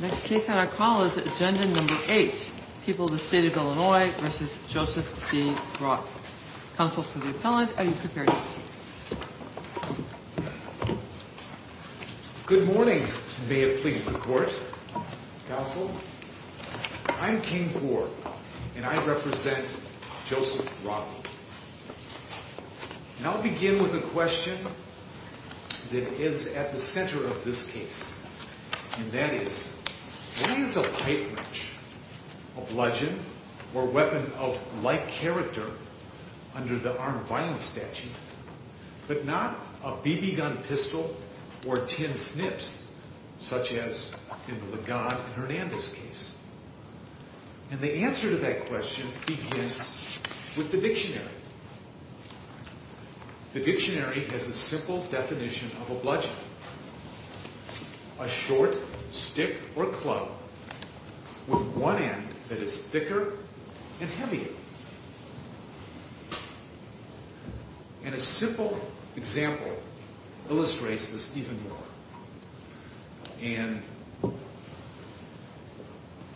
Next case on our call is agenda number 8, People of the State of Illinois v. Joseph C. Rothe. Counsel for the appellant, are you prepared to speak? Good morning, may it please the court. Counsel, I'm King Kaur and I represent Joseph Rothe. I'll begin with a question that is at the center of this case, and that is, what is a pipe wrench, a bludgeon or weapon of like character under the armed violence statute, but not a BB gun pistol or tin snips such as in the Legon and Hernandez case? And the answer to that question begins with the dictionary. The dictionary has a simple definition of a bludgeon, a short stick or club with one end that is thicker and heavier. And a simple example illustrates this even more. And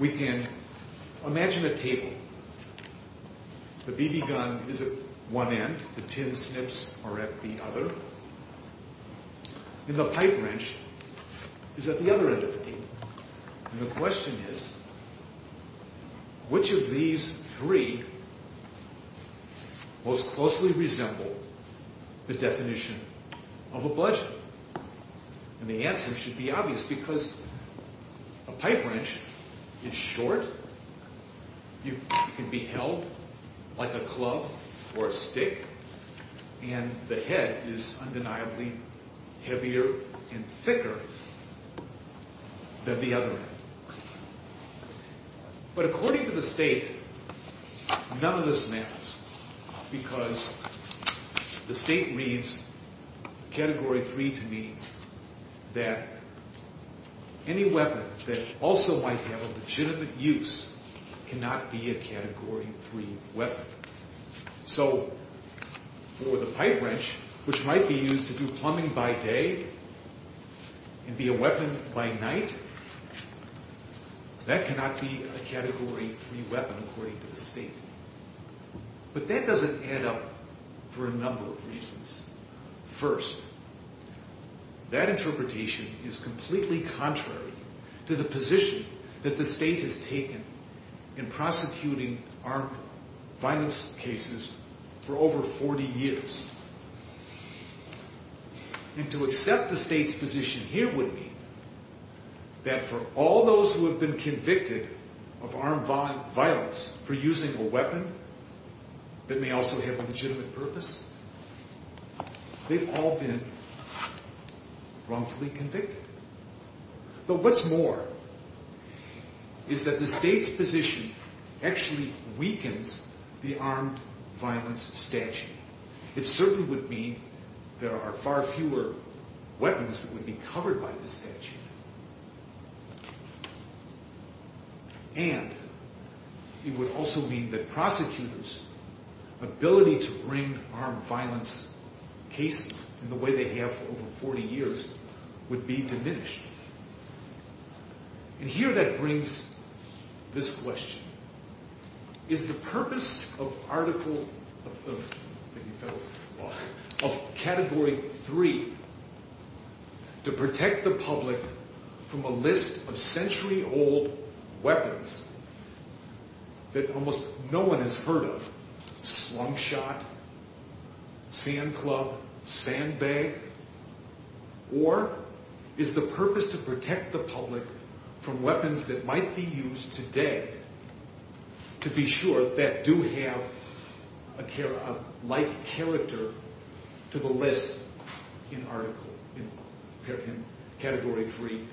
we can imagine a table. The BB gun is at one end, the tin snips are at the other, and the pipe wrench is at the other end of the table. And the question is, which of these three most closely resemble the definition of a bludgeon? And the answer should be obvious because a pipe wrench is short, it can be held like a club or a stick, and the head is undeniably heavier and thicker. But according to the state, none of this matters because the state reads Category 3 to me that any weapon that also might have a legitimate use cannot be a Category 3 weapon. So for the pipe wrench, which might be used to do plumbing by day and be a weapon by night, that cannot be a Category 3 weapon according to the state. But that doesn't add up for a number of reasons. First, that interpretation is completely contrary to the position that the state has taken in prosecuting armed violence cases for over 40 years. And to accept the state's position here would mean that for all those who have been convicted of armed violence for using a weapon that may also have a legitimate purpose, they've all been wrongfully convicted. But what's more is that the state's position actually weakens the armed violence statute. It certainly would mean there are far fewer weapons that would be covered by the statute. And it would also mean that prosecutors' ability to bring armed violence cases in the way they have for over 40 years would be diminished. And here that brings this question. Is the purpose of Category 3 to protect the public from a list of century-old weapons that almost no one has heard of? Slingshot, sand club, sand bag? Or is the purpose to protect the public from weapons that might be used today to be sure that do have a like character to the list in Category 3,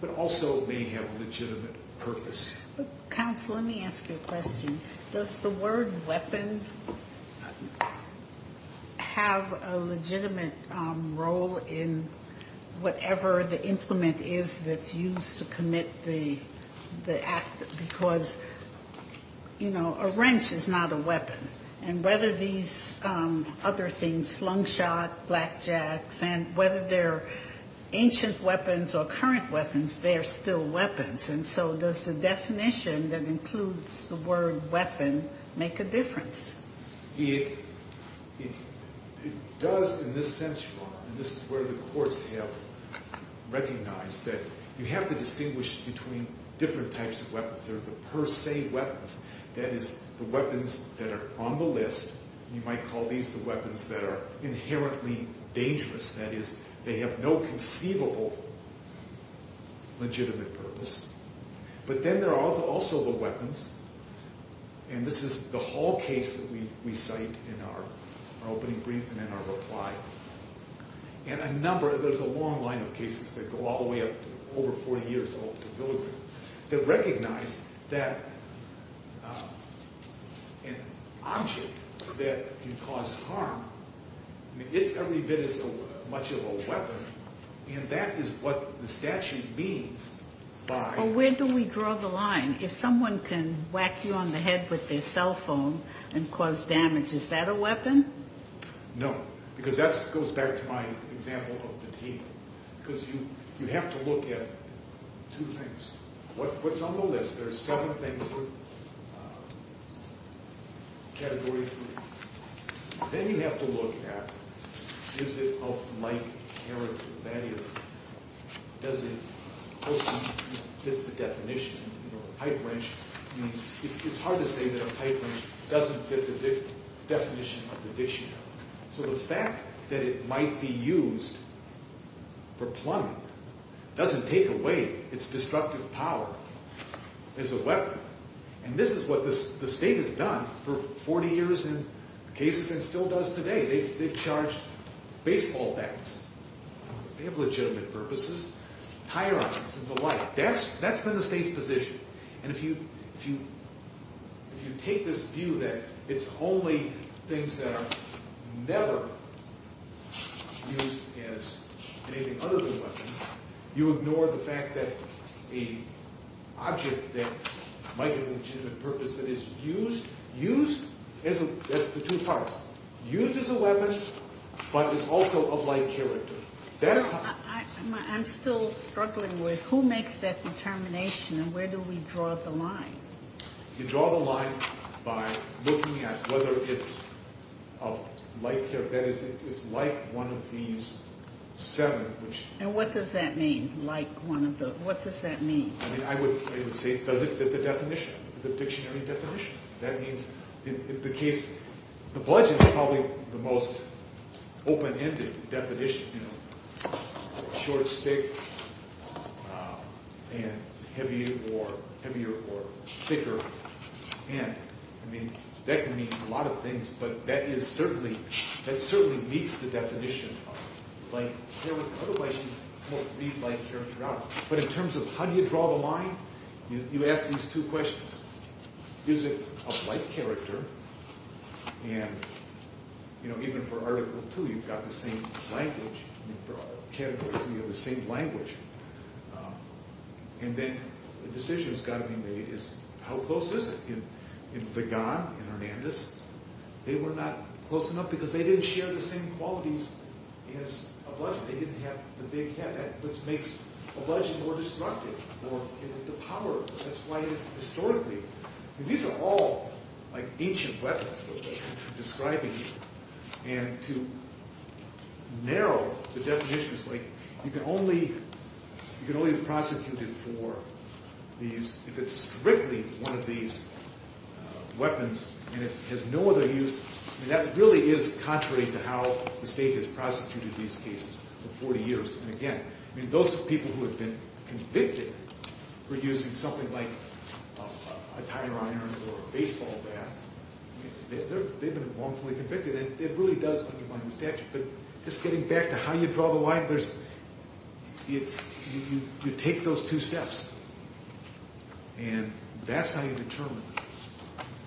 but also may have a legitimate purpose? Counsel, let me ask you a question. Does the word weapon have a legitimate role in whatever the implement is that's used to commit the act? Because, you know, a wrench is not a weapon. And whether these other things, slingshot, blackjacks, and whether they're ancient weapons or current weapons, they're still weapons. And so does the definition that includes the word weapon make a difference? It does in this sense, Your Honor, and this is where the courts have recognized that you have to distinguish between different types of weapons. There are the per se weapons, that is, the weapons that are on the list. You might call these the weapons that are inherently dangerous, that is, they have no conceivable legitimate purpose. But then there are also the weapons, and this is the whole case that we cite in our opening brief and in our reply. And a number, there's a long line of cases that go all the way up to over 40 years old, that recognize that an object that can cause harm is every bit as much of a weapon, and that is what the statute means by... Well, where do we draw the line? If someone can whack you on the head with their cell phone and cause damage, is that a weapon? No, because that goes back to my example of the table, because you have to look at two things. What's on the list? There's seven things, category three. Then you have to look at, is it of light character? That is, does it fit the definition of a pipe wrench? I mean, it's hard to say that a pipe wrench doesn't fit the definition of the dictionary. So the fact that it might be used for plumbing doesn't take away its destructive power as a weapon, and this is what the state has done for 40 years in cases and still does today. They've charged baseball bats. They have legitimate purposes. Tire objects and the like. That's been the state's position. And if you take this view that it's only things that are never used as anything other than weapons, you ignore the fact that an object that might have a legitimate purpose that is used as a... That's the two parts. Used as a weapon, but is also of light character. That is how... I'm still struggling with who makes that determination and where do we draw the line? You draw the line by looking at whether it's of light character. That is, it's like one of these seven, which... And what does that mean? Like one of the... What does that mean? I mean, I would say it doesn't fit the definition, the dictionary definition. That means, in the case... The bludgeon is probably the most open-ended definition, you know. Short, thick, and heavy, or heavier, or thicker. And, I mean, that can mean a lot of things, but that is certainly... That certainly meets the definition of light character. But in terms of how do you draw the line, you ask these two questions. Is it of light character? And, you know, even for Article 2, you've got the same language. I mean, for Category 3, you have the same language. And then the decision that's got to be made is how close is it? In Vigan and Hernandez, they were not close enough because they didn't share the same qualities as a bludgeon. They didn't have the big head, which makes a bludgeon more destructive. Or, you know, the power. That's why it is historically... And these are all, like, ancient weapons that we're describing here. And to narrow the definitions, like, you can only... You can only be prosecuted for these if it's strictly one of these weapons and it has no other use. And that really is contrary to how the state has prosecuted these cases for 40 years. And again, I mean, those people who have been convicted for using something like a tire iron or a baseball bat, they've been wrongfully convicted. And it really does undermine the statute. But just getting back to how you draw the line, there's... It's... You take those two steps. And that's how you determine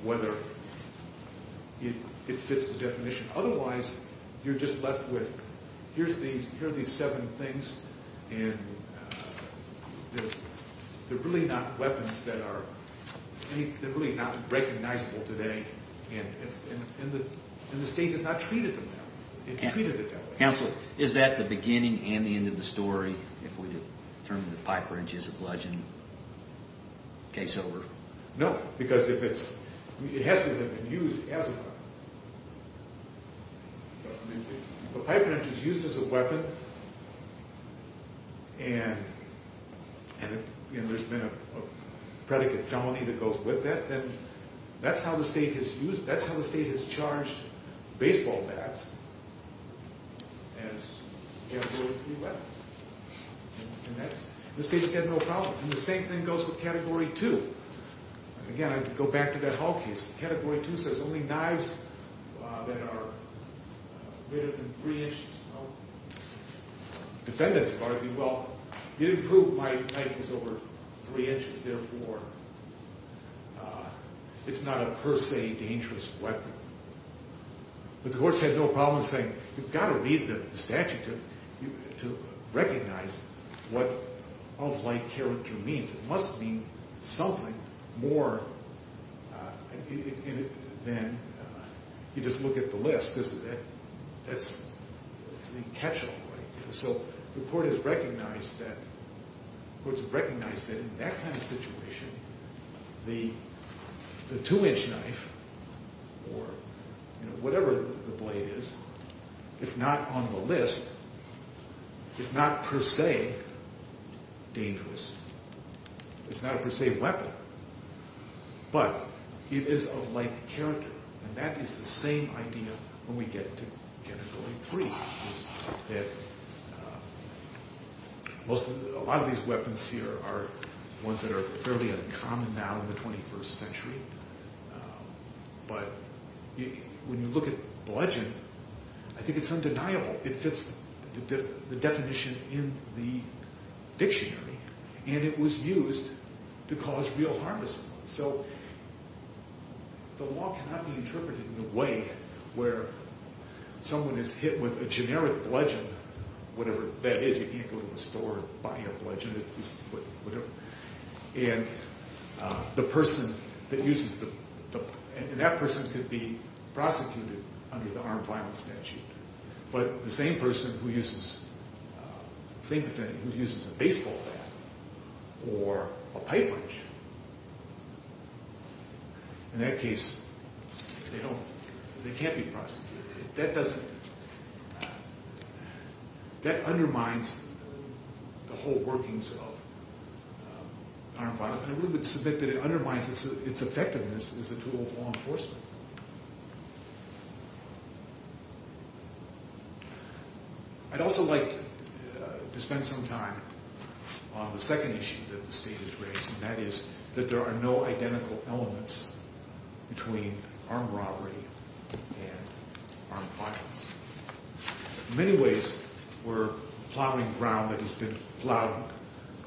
whether it fits the definition. Otherwise, you're just left with, here's these seven things and they're really not weapons that are... I mean, they're really not recognizable today. And the state has not treated them that way. It treated it that way. Counsel, is that the beginning and the end of the story if we determine that the pipe wrench is a bludgeon case over? No, because if it's... It has to have been used as a weapon. The pipe wrench is used as a weapon and there's been a predicate felony that goes with that. And that's how the state has used... That's how the state has charged baseball bats as category three weapons. And that's... The state has had no problem. And the same thing goes with category two. Again, I go back to that Hall case. Category two says only knives that are greater than three inches tall. Defendants argue, well, you didn't prove my knife was over three inches, therefore it's not a per se dangerous weapon. But the courts have no problem saying, you've got to read the statute to recognize what of like character means. It must mean something more than you just look at the list. That's the catch-all point. So the court has recognized that in that kind of situation, the two-inch knife or whatever the blade is, it's not on the list. It's not per se dangerous. It's not a per se weapon. But it is of like character. And that is the same idea when we get to category three, is that a lot of these weapons here are ones that are fairly uncommon now in the 21st century. But when you look at the legend, I think it's undeniable. It fits the definition in the dictionary. And it was used to cause real harm to someone. So the law cannot be interpreted in the way where someone is hit with a generic bludgeon, whatever that is. You can't go to the store and buy a bludgeon. And the person that uses the – and that person could be prosecuted under the armed violence statute. But the same person who uses – the same defendant who uses a baseball bat or a pipe wrench, in that case, they don't – they can't be prosecuted. That doesn't – that undermines the whole workings of armed violence. And I really would submit that it undermines its effectiveness as a tool of law enforcement. I'd also like to spend some time on the second issue that the state has raised, and that is that there are no identical elements between armed robbery and armed violence. In many ways, we're plowing ground that has been plowed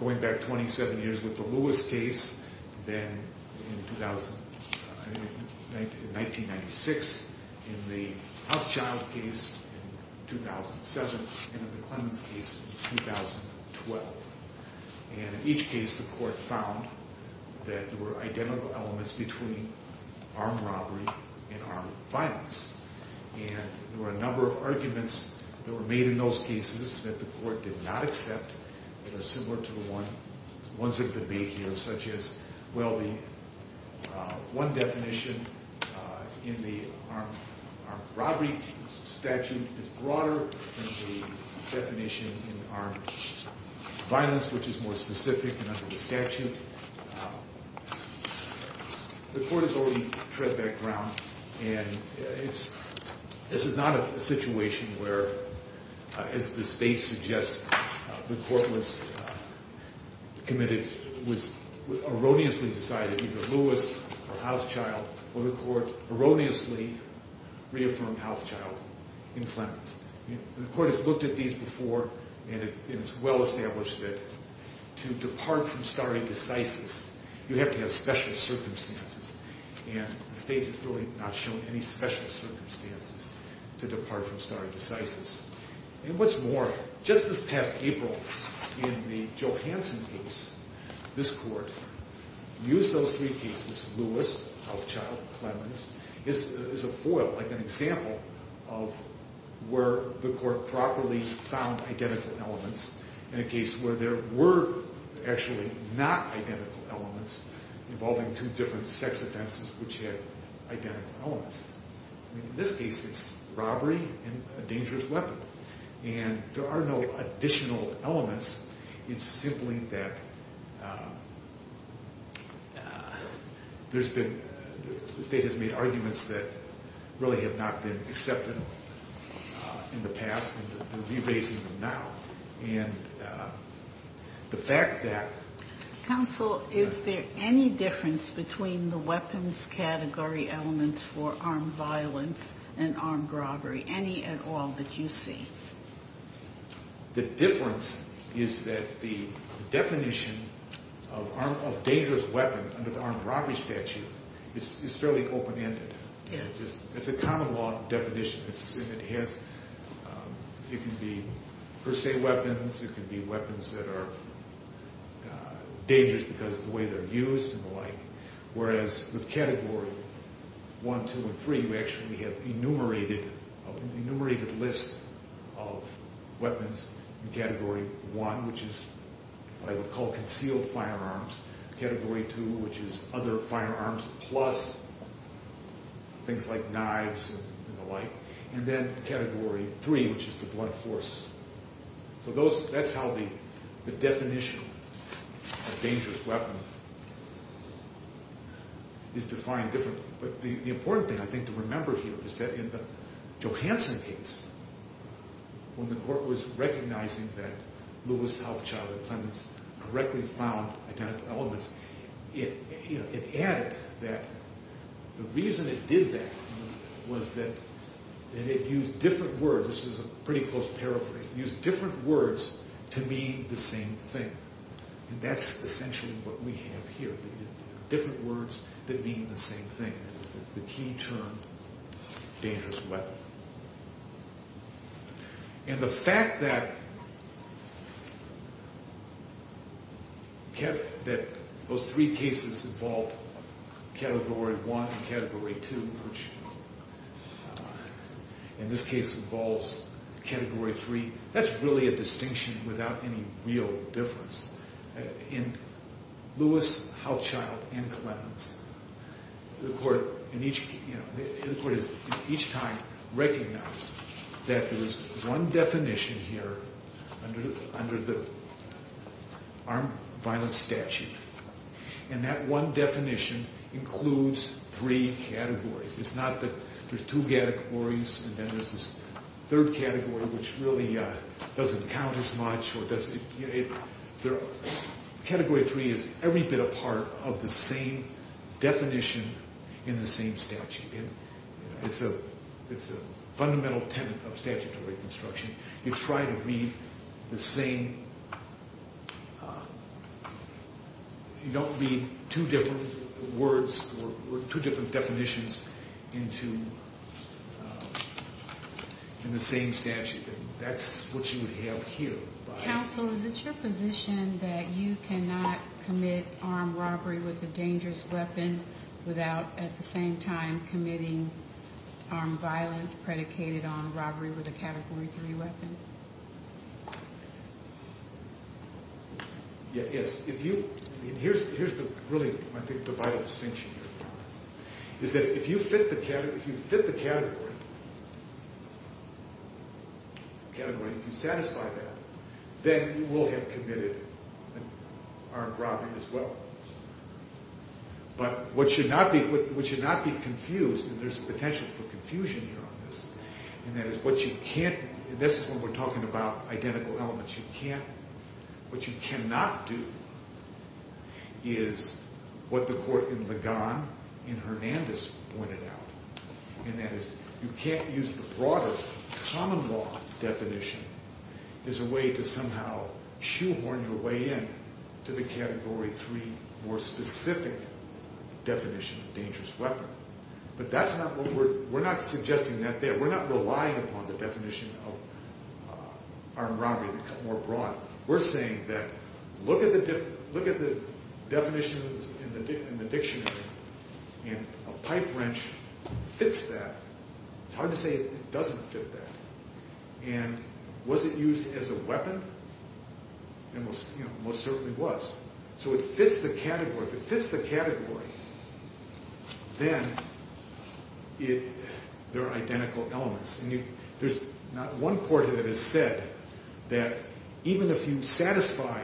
going back 27 years with the Lewis case, then in 1996, in the Housechild case in 2007, and in the Clemens case in 2012. And in each case, the court found that there were identical elements between armed robbery and armed violence. And there were a number of arguments that were made in those cases that the court did not accept, that are similar to the ones that could be here, such as, well, the – one definition in the armed robbery statute is broader than the definition in armed violence, which is more specific and under the statute. The court has already tread that ground, and it's – this is not a situation where, as the state suggests, the court was committed – was erroneously decided, either Lewis or Housechild, or the court erroneously reaffirmed Housechild in Clemens. The court has looked at these before, and it's well established that to depart from stare decisis, you have to have special circumstances, and the state has really not shown any special circumstances to depart from stare decisis. And what's more, just this past April, in the Johansson case, this court used those three cases – Lewis, Housechild, Clemens – as a foil, like an example of where the court properly found identical elements in a case where there were actually not identical elements involving two different sex offenses which had identical elements. I mean, in this case, it's robbery and a dangerous weapon, and there are no additional elements. It's simply that there's been – the state has made arguments that really have not been accepted in the past, and they're revising them now. And the fact that – Counsel, is there any difference between the weapons category elements for armed violence and armed robbery, any at all, that you see? The difference is that the definition of dangerous weapon under the armed robbery statute is fairly open-ended. It's a common law definition. It has – it can be per se weapons. It can be weapons that are dangerous because of the way they're used and the like, whereas with Category 1, 2, and 3, we actually have an enumerated list of weapons in Category 1, which is what I would call concealed firearms, Category 2, which is other firearms plus things like knives and the like, and then Category 3, which is the blunt force. So those – that's how the definition of dangerous weapon is defined differently. But the important thing, I think, to remember here is that in the Johansson case, when the court was recognizing that Lewis Health Child Offendants correctly found identical elements, it added that the reason it did that was that it used different words. This is a pretty close paraphrase. It used different words to mean the same thing. And that's essentially what we have here, different words that mean the same thing, is that the key term, dangerous weapon. And the fact that those three cases involved Category 1 and Category 2, which in this case involves Category 3, that's really a distinction without any real difference. In Lewis Health Child and Clemens, the court in each case – the court has each time recognized that there's one definition here under the armed violence statute, and that one definition includes three categories. There's two categories, and then there's this third category, which really doesn't count as much. Category 3 is every bit a part of the same definition in the same statute. It's a fundamental tenet of statutory construction. You try to read the same – you don't read two different words or two different definitions in the same statute. And that's what you would have here. Counsel, is it your position that you cannot commit armed robbery with a dangerous weapon without at the same time committing armed violence predicated on robbery with a Category 3 weapon? Yes. Here's really, I think, the vital distinction here, is that if you fit the category, if you satisfy that, then you will have committed armed robbery as well. But what should not be confused, and there's potential for confusion here on this, and that is what you can't – and this is when we're talking about identical elements. What you can't – what you cannot do is what the court in Ligon in Hernandez pointed out, and that is you can't use the broader common law definition as a way to somehow shoehorn your way in to the Category 3 more specific definition of dangerous weapon. But that's not what we're – we're not suggesting that there – we're not relying upon the definition of armed robbery to come more broad. We're saying that look at the definition in the dictionary, and a pipe wrench fits that. It's hard to say it doesn't fit that. And was it used as a weapon? It most certainly was. So it fits the category. If it fits the category, then there are identical elements. And there's not one court that has said that even if you satisfy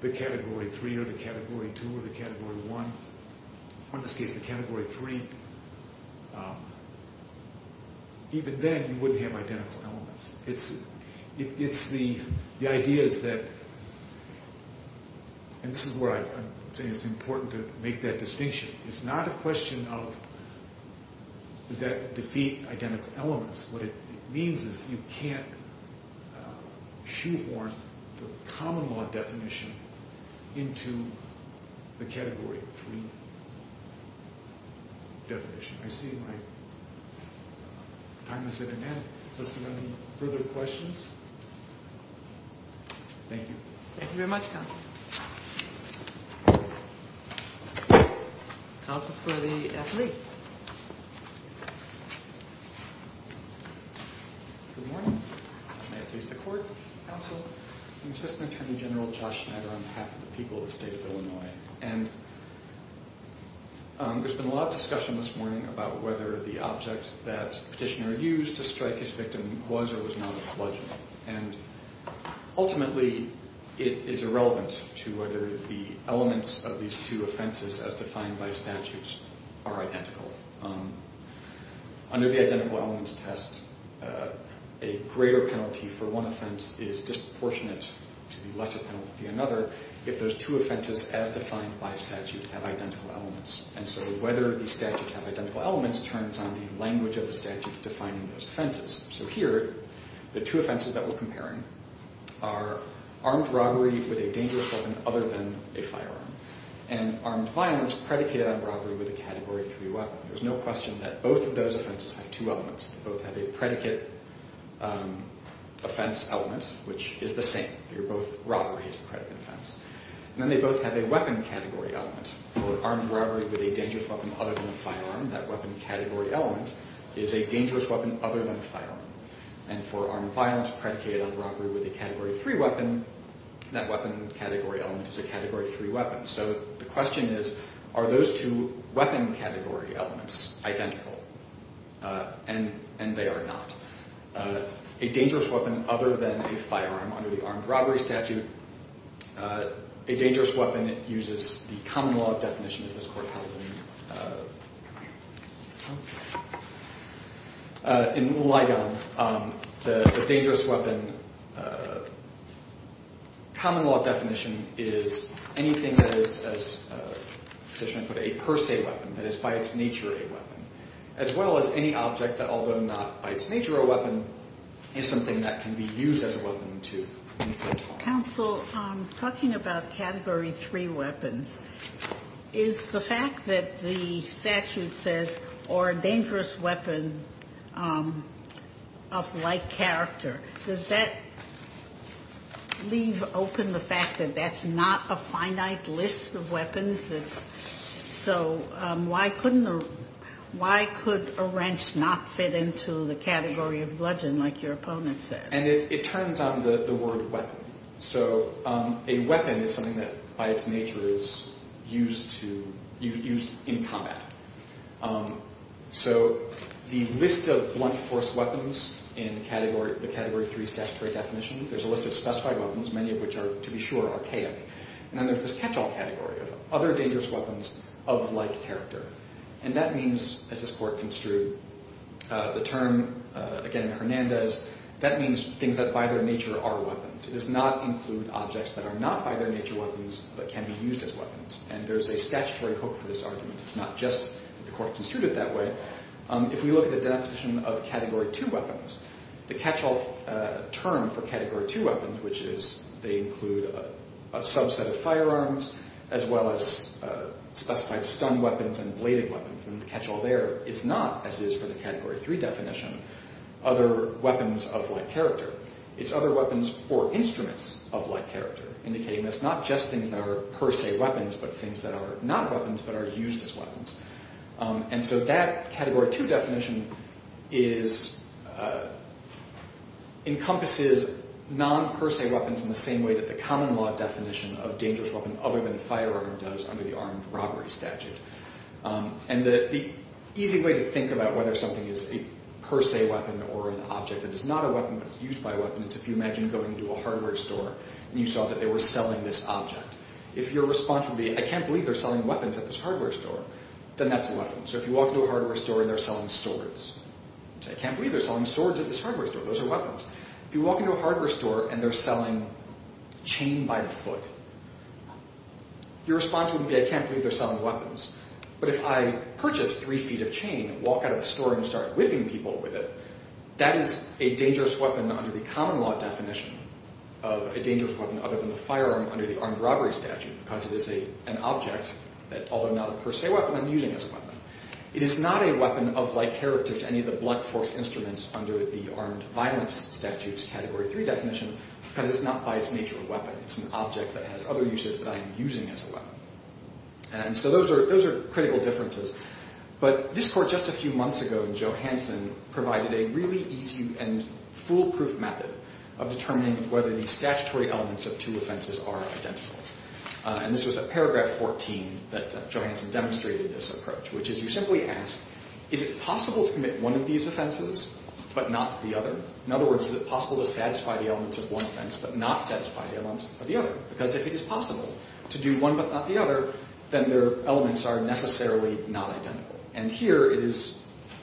the Category 3 or the Category 2 or the Category 1, or in this case the Category 3, even then you wouldn't have identical elements. It's the idea is that – and this is where I think it's important to make that distinction. It's not a question of does that defeat identical elements. What it means is you can't shoehorn the common law definition into the Category 3 definition. I see my time is at an end. Are there any further questions? Thank you. Thank you very much, Counsel. Counsel for the athlete. Good morning. May it please the Court. Counsel, I'm Assistant Attorney General Josh Schneider on behalf of the people of the state of Illinois. And there's been a lot of discussion this morning about whether the object that Petitioner used to strike his victim was or was not a bludgeon. And ultimately, it is irrelevant to whether the elements of these two offenses as defined by statutes are identical. Under the Identical Elements Test, a greater penalty for one offense is disproportionate to the lesser penalty for another. If those two offenses as defined by statute have identical elements. And so whether these statutes have identical elements turns on the language of the statute defining those offenses. So here, the two offenses that we're comparing are armed robbery with a dangerous weapon other than a firearm and armed violence predicated on robbery with a Category 3 weapon. There's no question that both of those offenses have two elements. Both have a predicate offense element, which is the same. They're both robbery as a predicate offense. And then they both have a weapon category element. For armed robbery with a dangerous weapon other than a firearm, that weapon category element is a dangerous weapon other than a firearm. And for armed violence predicated on robbery with a Category 3 weapon, that weapon category element is a Category 3 weapon. So the question is, are those two weapon category elements identical? And they are not. A dangerous weapon other than a firearm under the armed robbery statute. A dangerous weapon uses the common law definition as this court held in Ligon. The dangerous weapon common law definition is anything that is, as the petitioner put it, a per se weapon. That is by its nature a weapon. As well as any object that, although not by its nature a weapon, is something that can be used as a weapon to inflict harm. Counsel, talking about Category 3 weapons, is the fact that the statute says, or a dangerous weapon of like character, does that leave open the fact that that's not a finite list of weapons? So why could a wrench not fit into the category of bludgeon like your opponent says? And it turns on the word weapon. So a weapon is something that by its nature is used in combat. So the list of blunt force weapons in the Category 3 statutory definition, there's a list of specified weapons, many of which are, to be sure, archaic. And then there's this catch-all category of other dangerous weapons of like character. And that means, as this court construed the term, again in Hernandez, that means things that by their nature are weapons. It does not include objects that are not by their nature weapons but can be used as weapons. And there's a statutory hook for this argument. It's not just that the court construed it that way. If we look at the definition of Category 2 weapons, the catch-all term for Category 2 weapons, which is they include a subset of firearms as well as specified stun weapons and bladed weapons, then the catch-all there is not, as it is for the Category 3 definition, other weapons of like character. It's other weapons or instruments of like character, indicating that it's not just things that are per se weapons but things that are not weapons but are used as weapons. And so that Category 2 definition encompasses non-per se weapons in the same way that the common law definition of dangerous weapon other than a firearm does under the armed robbery statute. And the easy way to think about whether something is a per se weapon or an object that is not a weapon but is used by a weapon is if you imagine going to a hardware store and you saw that they were selling this object. If your response would be, I can't believe they're selling weapons at this hardware store, then that's a weapon. So if you walk into a hardware store and they're selling swords, say, I can't believe they're selling swords at this hardware store. Those are weapons. If you walk into a hardware store and they're selling chain by the foot, your response would be, I can't believe they're selling weapons. But if I purchase three feet of chain and walk out of the store and start whipping people with it, that is a dangerous weapon under the common law definition of a dangerous weapon other than a firearm under the armed robbery statute because it is an object that, although not a per se weapon, I'm using as a weapon. It is not a weapon of like heritage to any of the blunt force instruments under the armed violence statute's Category 3 definition because it's not by its nature a weapon. It's an object that has other uses that I am using as a weapon. And so those are critical differences. But this court just a few months ago in Johansson provided a really easy and foolproof method of determining whether the statutory elements of two offenses are identical. And this was at paragraph 14 that Johansson demonstrated this approach, which is you simply ask, is it possible to commit one of these offenses but not the other? In other words, is it possible to satisfy the elements of one offense but not satisfy the elements of the other? Because if it is possible to do one but not the other, then their elements are necessarily not identical. And here it is,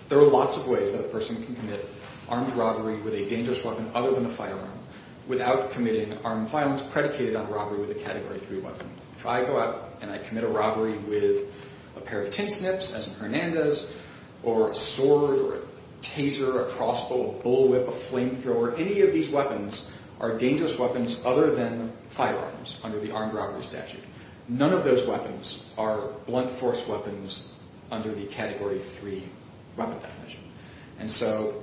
there are lots of ways that a person can commit armed robbery with a dangerous weapon other than a firearm without committing armed violence predicated on robbery with a Category 3 weapon. If I go out and I commit a robbery with a pair of tin snips, as in Hernandez, or a sword, or a taser, a crossbow, a bullwhip, a flamethrower, any of these weapons are dangerous weapons other than firearms under the armed robbery statute. None of those weapons are blunt force weapons under the Category 3 weapon definition. And so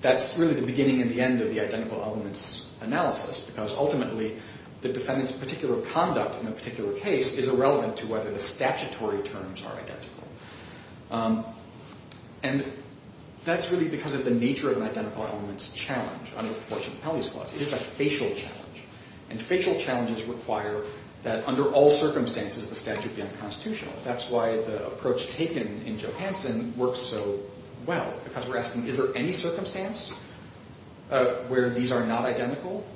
that's really the beginning and the end of the identical elements analysis because ultimately the defendant's particular conduct in a particular case is irrelevant to whether the statutory terms are identical. And that's really because of the nature of an identical elements challenge under the Proportionality Propellius Clause. It is a facial challenge. And facial challenges require that under all circumstances the statute be unconstitutional. That's why the approach taken in Johansson works so well because we're asking is there any circumstance where these are not identical?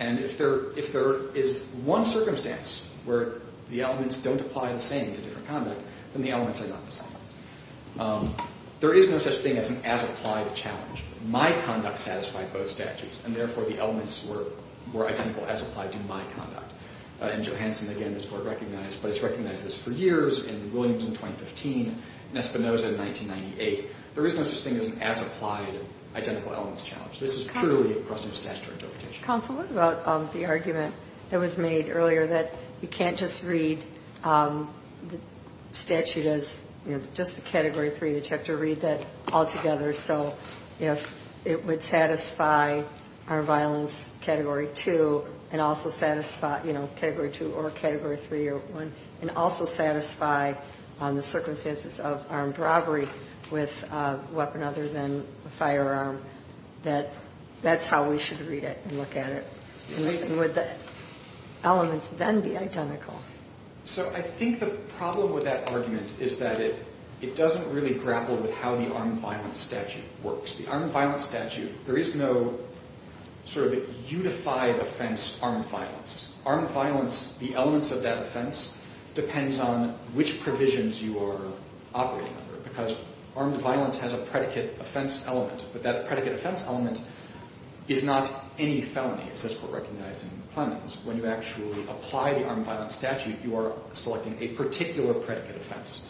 And if there is one circumstance where the elements don't apply the same to different conduct, then the elements are not the same. There is no such thing as an as-applied challenge. My conduct satisfied both statutes, and therefore the elements were identical as applied to my conduct. In Johansson, again, the court recognized, but it's recognized this for years. In Williams in 2015, in Espinoza in 1998, there is no such thing as an as-applied identical elements challenge. This is purely a question of statutory interpretation. Counsel, what about the argument that was made earlier that you can't just read the statute as just the Category 3? You'd have to read that all together. So if it would satisfy armed violence Category 2 and also satisfy, you know, Category 2 or Category 3 or 1, and also satisfy the circumstances of armed robbery with a weapon other than a firearm, that that's how we should read it and look at it. And would the elements then be identical? So I think the problem with that argument is that it doesn't really grapple with how the armed violence statute works. The armed violence statute, there is no sort of unified offense armed violence. Armed violence, the elements of that offense depends on which provisions you are operating under because armed violence has a predicate offense element, but that predicate offense element is not any felony, as this Court recognized in Clemens. When you actually apply the armed violence statute, you are selecting a particular predicate offense.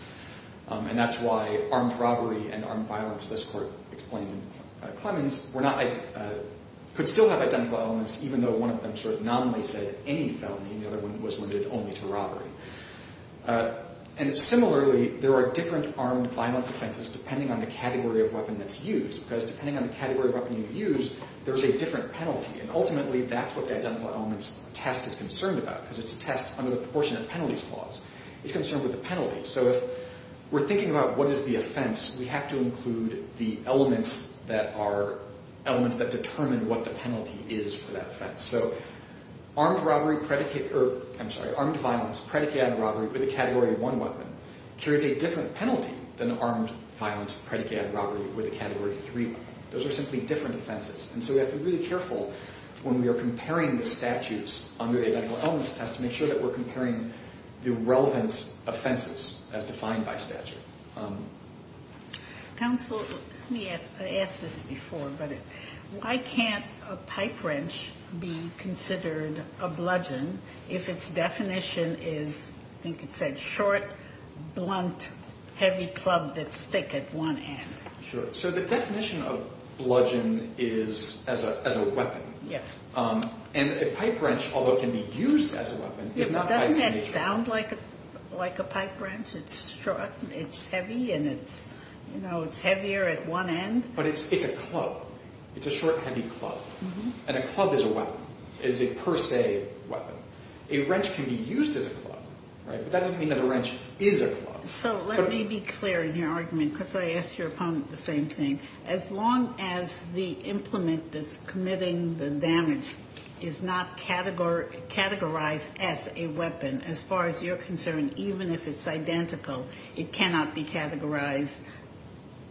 And that's why armed robbery and armed violence, this Court explained in Clemens, could still have identical elements even though one of them sort of nominally said any felony, and the other one was limited only to robbery. And similarly, there are different armed violence offenses depending on the category of weapon that's used because depending on the category of weapon you use, there's a different penalty. And ultimately, that's what the identical elements test is concerned about because it's a test under the proportionate penalties clause. It's concerned with the penalty. So if we're thinking about what is the offense, we have to include the elements that determine what the penalty is for that offense. So armed violence predicated on robbery with a Category 1 weapon carries a different penalty than armed violence predicated on robbery with a Category 3 weapon. Those are simply different offenses. And so we have to be really careful when we are comparing the statutes under the identical elements test to make sure that we're comparing the relevant offenses as defined by statute. Counsel, let me ask this before, but why can't a pipe wrench be considered a bludgeon if its definition is, I think it said, short, blunt, heavy club that's thick at one end? Sure. So the definition of bludgeon is as a weapon. Yes. And a pipe wrench, although it can be used as a weapon, is not… Doesn't that sound like a pipe wrench? It's heavy and it's heavier at one end? But it's a club. It's a short, heavy club. And a club is a weapon, is a per se weapon. A wrench can be used as a club, right? But that doesn't mean that a wrench is a club. So let me be clear in your argument because I asked your opponent the same thing. As long as the implement that's committing the damage is not categorized as a weapon, as far as you're concerned, even if it's identical, it cannot be categorized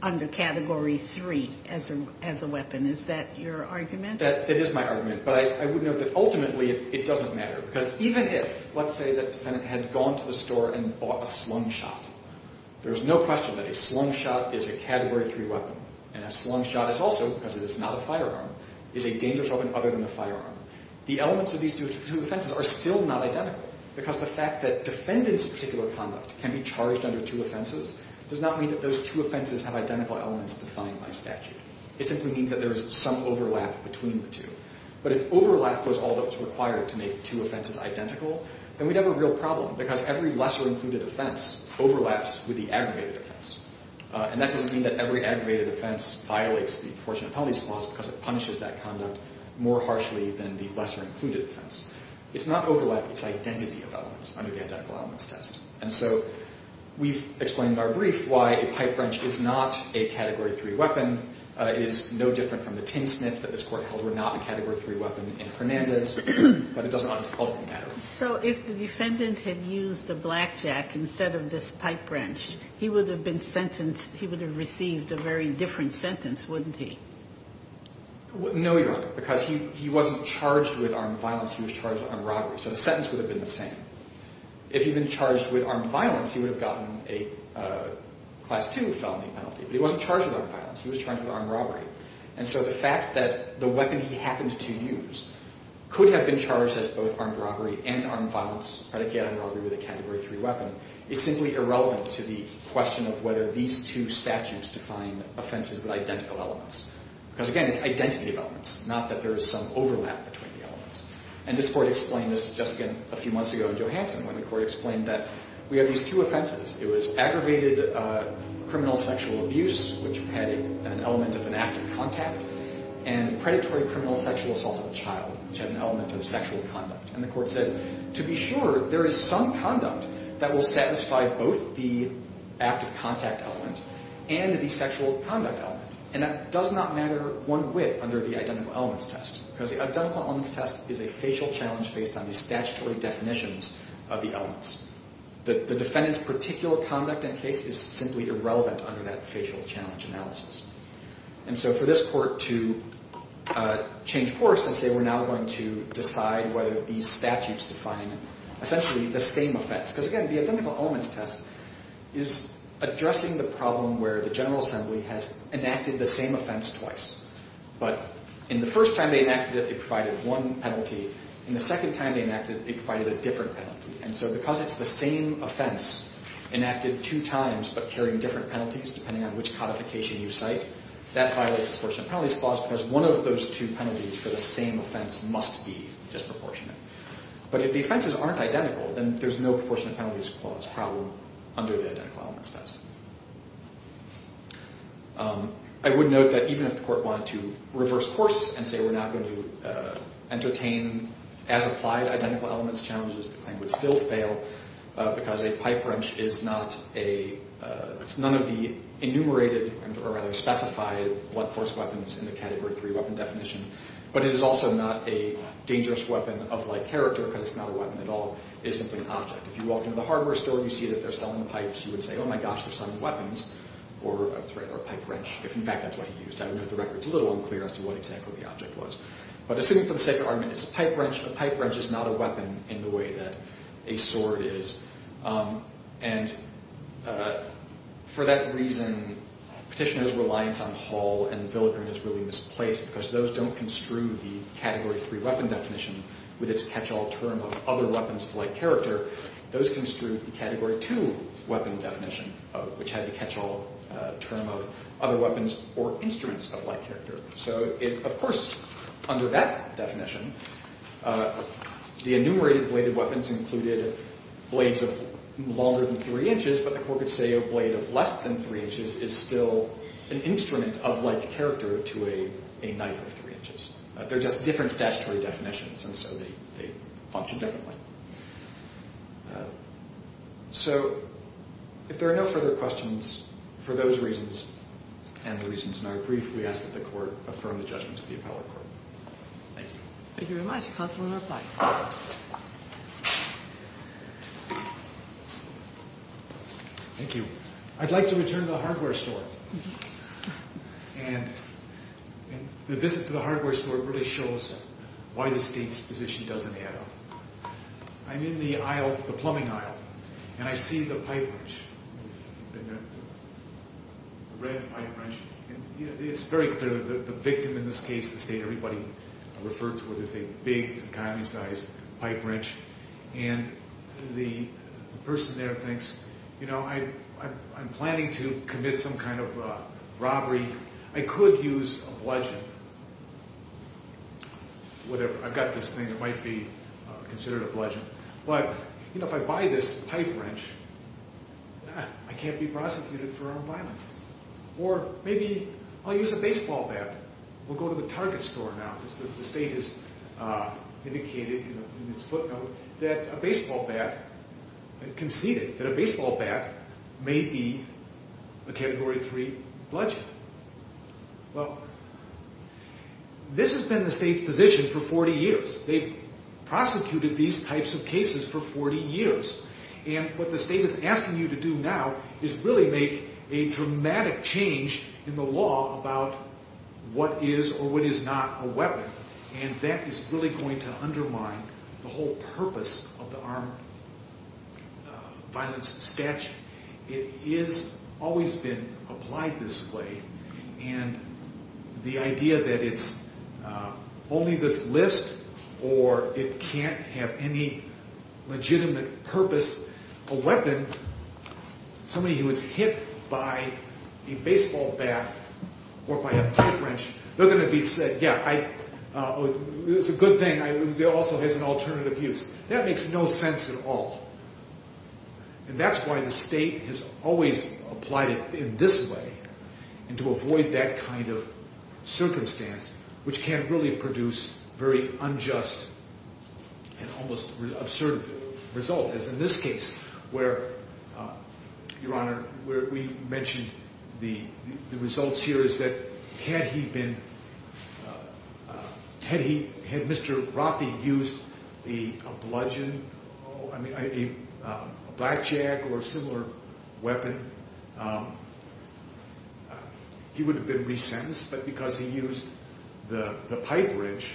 under Category 3 as a weapon. Is that your argument? That is my argument. But I would note that ultimately it doesn't matter because even if, let's say that the defendant had gone to the store and bought a slung shot, there's no question that a slung shot is a Category 3 weapon. And a slung shot is also, because it is not a firearm, is a dangerous weapon other than a firearm. The elements of these two offenses are still not identical because the fact that defendants' particular conduct can be charged under two offenses does not mean that those two offenses have identical elements defined by statute. It simply means that there is some overlap between the two. But if overlap was all that was required to make two offenses identical, then we'd have a real problem because every lesser-included offense overlaps with the aggravated offense. And that doesn't mean that every aggravated offense violates the proportionate penalties clause because it punishes that conduct more harshly than the lesser-included offense. It's not overlap, it's identity of elements under the identical elements test. And so we've explained in our brief why a pipe wrench is not a Category 3 weapon. It is no different from the tin sniff that this Court held were not a Category 3 weapon in Hernandez. But it doesn't un-cultivate that. So if the defendant had used a blackjack instead of this pipe wrench, he would have been sentenced, he would have received a very different sentence, wouldn't he? No, Your Honor, because he wasn't charged with armed violence, he was charged with armed robbery. So the sentence would have been the same. If he'd been charged with armed violence, he would have gotten a Class 2 felony penalty. But he wasn't charged with armed violence, he was charged with armed robbery. And so the fact that the weapon he happened to use could have been charged as both armed robbery and armed violence, predicated on robbery with a Category 3 weapon, is simply irrelevant to the question of whether these two statutes define offenses with identical elements. Because, again, it's identity of elements, not that there is some overlap between the elements. And this Court explained this just, again, a few months ago in Johansson when the Court explained that we have these two offenses. It was aggravated criminal sexual abuse, which had an element of an act of contact, and predatory criminal sexual assault of a child, which had an element of sexual conduct. And the Court said, to be sure, there is some conduct that will satisfy both the act of contact element and the sexual conduct element. And that does not matter one whit under the identical elements test. Because the identical elements test is a facial challenge based on the statutory definitions of the elements. The defendant's particular conduct and case is simply irrelevant under that facial challenge analysis. And so for this Court to change course and say, we're now going to decide whether these statutes define essentially the same offense. Because, again, the identical elements test is addressing the problem where the General Assembly has enacted the same offense twice. But in the first time they enacted it, it provided one penalty. In the second time they enacted it, it provided a different penalty. And so because it's the same offense enacted two times, but carrying different penalties depending on which codification you cite, that violates the Proportionate Penalties Clause because one of those two penalties for the same offense must be disproportionate. But if the offenses aren't identical, then there's no Proportionate Penalties Clause problem under the identical elements test. I would note that even if the Court wanted to reverse course and say we're not going to entertain as applied identical elements challenges, the claim would still fail because a pipe wrench is not a – it's none of the enumerated or rather specified blunt force weapons in the Category 3 weapon definition. But it is also not a dangerous weapon of like character because it's not a weapon at all. It is simply an object. If you walk into the hardware store and you see that they're selling pipes, you would say, oh, my gosh, they're selling weapons or a pipe wrench. If, in fact, that's what he used. I would note the record's a little unclear as to what exactly the object was. But assuming for the sake of argument it's a pipe wrench, a pipe wrench is not a weapon in the way that a sword is. And for that reason, Petitioner's reliance on hull and filigree is really misplaced because those don't construe the Category 3 weapon definition with its catch-all term of other weapons of like character. Those construe the Category 2 weapon definition, which had the catch-all term of other weapons or instruments of like character. So, of course, under that definition, the enumerated bladed weapons included blades of longer than 3 inches, but the court would say a blade of less than 3 inches is still an instrument of like character to a knife of 3 inches. They're just different statutory definitions, and so they function differently. So if there are no further questions for those reasons and other reasons, and I would briefly ask that the court affirm the judgment of the appellate court. Thank you. Thank you very much. Counsel will now reply. Thank you. I'd like to return to the hardware store. And the visit to the hardware store really shows why the State's position doesn't add up. I'm in the aisle, the plumbing aisle, and I see the pipe wrench, the red pipe wrench. It's very clear that the victim in this case, the State, everybody referred to it as a big economy-sized pipe wrench. And the person there thinks, you know, I'm planning to commit some kind of robbery. I could use a bludgeon, whatever. I've got this thing that might be considered a bludgeon. But, you know, if I buy this pipe wrench, I can't be prosecuted for armed violence. Or maybe I'll use a baseball bat. We'll go to the Target store now because the State has indicated in its footnote that a baseball bat, conceded that a baseball bat may be a Category 3 bludgeon. Well, this has been the State's position for 40 years. They've prosecuted these types of cases for 40 years. And what the State is asking you to do now is really make a dramatic change in the law about what is or what is not a weapon. And that is really going to undermine the whole purpose of the armed violence statute. It has always been applied this way. And the idea that it's only this list or it can't have any legitimate purpose, a weapon, somebody who is hit by a baseball bat or by a pipe wrench, they're going to be said, yeah, it's a good thing. It also has an alternative use. That makes no sense at all. And that's why the State has always applied it in this way and to avoid that kind of circumstance, which can really produce very unjust and almost absurd results. As in this case where, Your Honor, where we mentioned the results here is that had he been, had he, had Mr. Rothy used the bludgeon, a blackjack or a similar weapon, he would have been resentenced. But because he used the pipe wrench,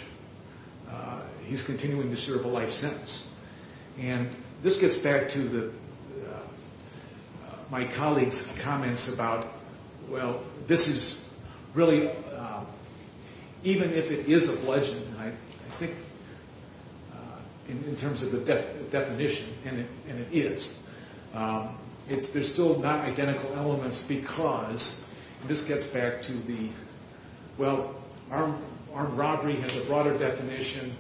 he's continuing to serve a life sentence. And this gets back to my colleague's comments about, well, this is really, even if it is a bludgeon, I think in terms of the definition, and it is, there's still not identical elements because, and this gets back to the, well, armed robbery has a broader definition.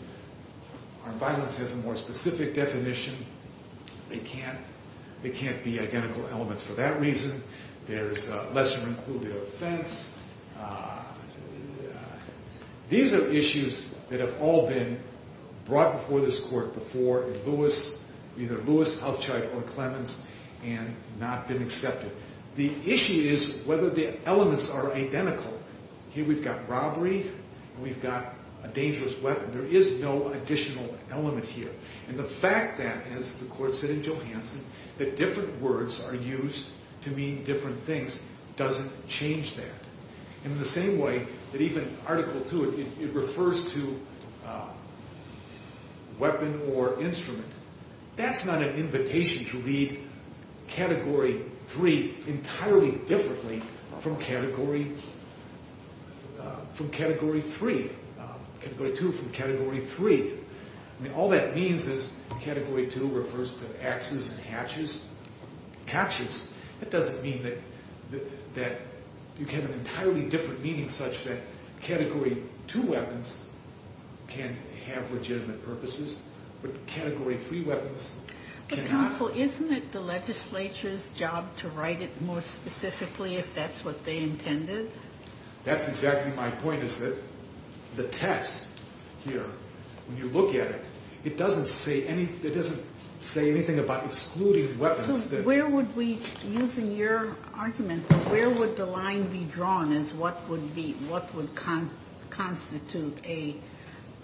Armed violence has a more specific definition. They can't, they can't be identical elements for that reason. There's a lesser included offense. These are issues that have all been brought before this court before in Lewis, either Lewis, Houchard, or Clemens, and not been accepted. The issue is whether the elements are identical. Here we've got robbery and we've got a dangerous weapon. There is no additional element here. And the fact that, as the court said in Johansen, that different words are used to mean different things doesn't change that. And in the same way that even Article II, it refers to weapon or instrument. That's not an invitation to read Category 3 entirely differently from Category 3, Category 2 from Category 3. I mean, all that means is Category 2 refers to axes and hatches. Hatches, that doesn't mean that you get an entirely different meaning such that Category 2 weapons can have legitimate purposes, but Category 3 weapons cannot. But counsel, isn't it the legislature's job to write it more specifically if that's what they intended? That's exactly my point is that the test here, when you look at it, it doesn't say anything about excluding weapons. So where would we, using your argument, where would the line be drawn as what would constitute a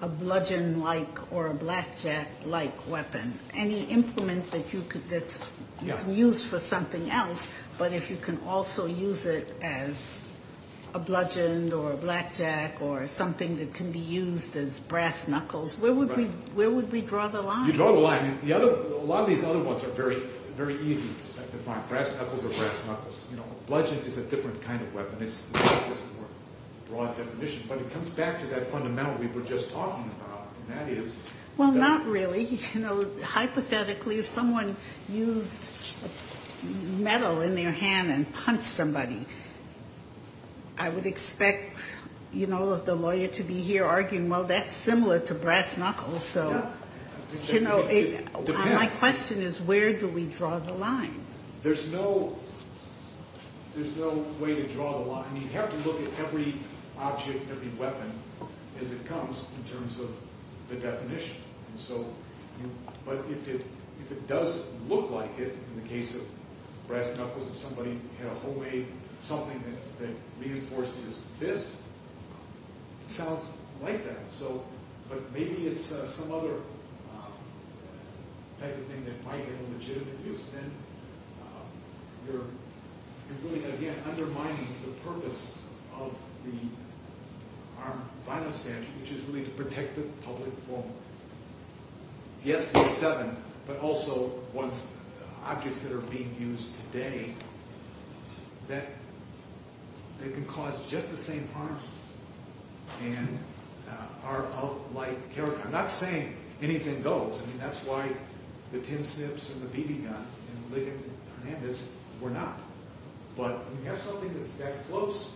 bludgeon-like or a blackjack-like weapon? Any implement that you could use for something else, but if you can also use it as a bludgeon or a blackjack or something that can be used as brass knuckles, where would we draw the line? You draw the line. A lot of these other ones are very, very easy to find, brass knuckles or brass knuckles. A bludgeon is a different kind of weapon. It's a more broad definition, but it comes back to that fundamental we were just talking about, and that is... Well, not really. Hypothetically, if someone used metal in their hand and punched somebody, I would expect the lawyer to be here arguing, well, that's similar to brass knuckles. My question is where do we draw the line? There's no way to draw the line. You'd have to look at every object, every weapon as it comes in terms of the definition. But if it does look like it, in the case of brass knuckles, if somebody had a whole way, something that reinforced his fist, it sounds like that. But maybe it's some other type of thing that might be a legitimate use. Then you're really, again, undermining the purpose of the armed violence statute, which is really to protect the public from, yes, the seven, but also objects that are being used today that can cause just the same harm and are of light character. I'm not saying anything goes. I mean, that's why the tin snips and the BB gun and Ligon Hernandez were not. But when you have something that's that close,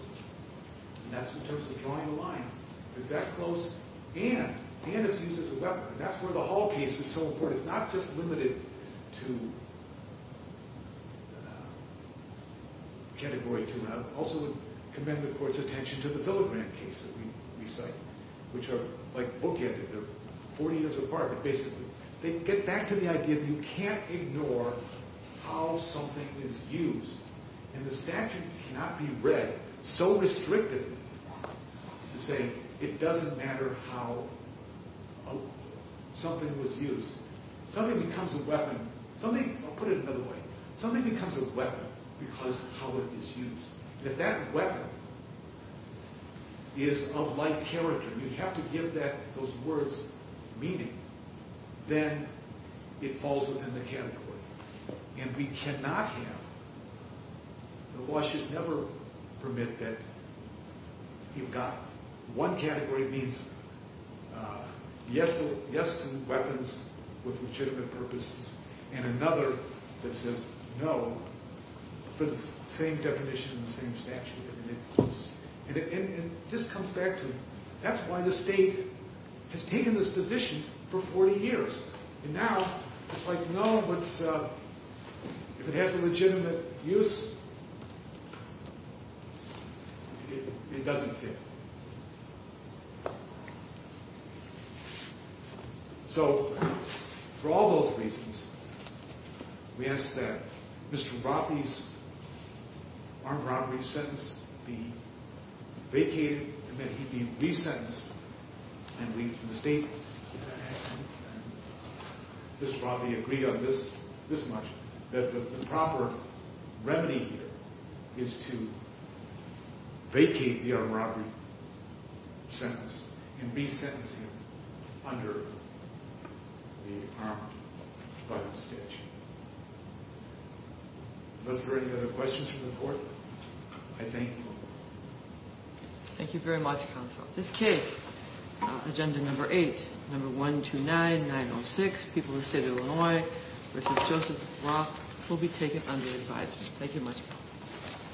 and that's in terms of drawing the line, is that close and is used as a weapon. That's where the Hall case is so important. It's not just limited to Category 2. And I also commend the court's attention to the filigree case that we cite, which are like book-ended. They're 40 years apart. But basically, they get back to the idea that you can't ignore how something is used. And the statute cannot be read so restrictively to say it doesn't matter how something was used. Something becomes a weapon. I'll put it another way. Something becomes a weapon because of how it is used. And if that weapon is of light character, you have to give those words meaning. Then it falls within the category. And we cannot have the law should never permit that you've got one category means yes to weapons with legitimate purposes and another that says no for the same definition and the same statute. And it just comes back to that's why the state has taken this position for 40 years. And now it's like, no, if it has a legitimate use, it doesn't fit. So for all those reasons, we ask that Mr. Brothy's armed robbery sentence be vacated and that he be re-sentenced. And the state and Mr. Brothy agree on this much, that the proper remedy here is to vacate the armed robbery sentence and re-sentence him under the armed robbery statute. Are there any other questions for the Court? I thank you. Thank you very much, Counsel. This case, Agenda No. 8, No. 129-906, People of the State of Illinois v. Joseph Roth will be taken under advisory. Thank you much, Counsel.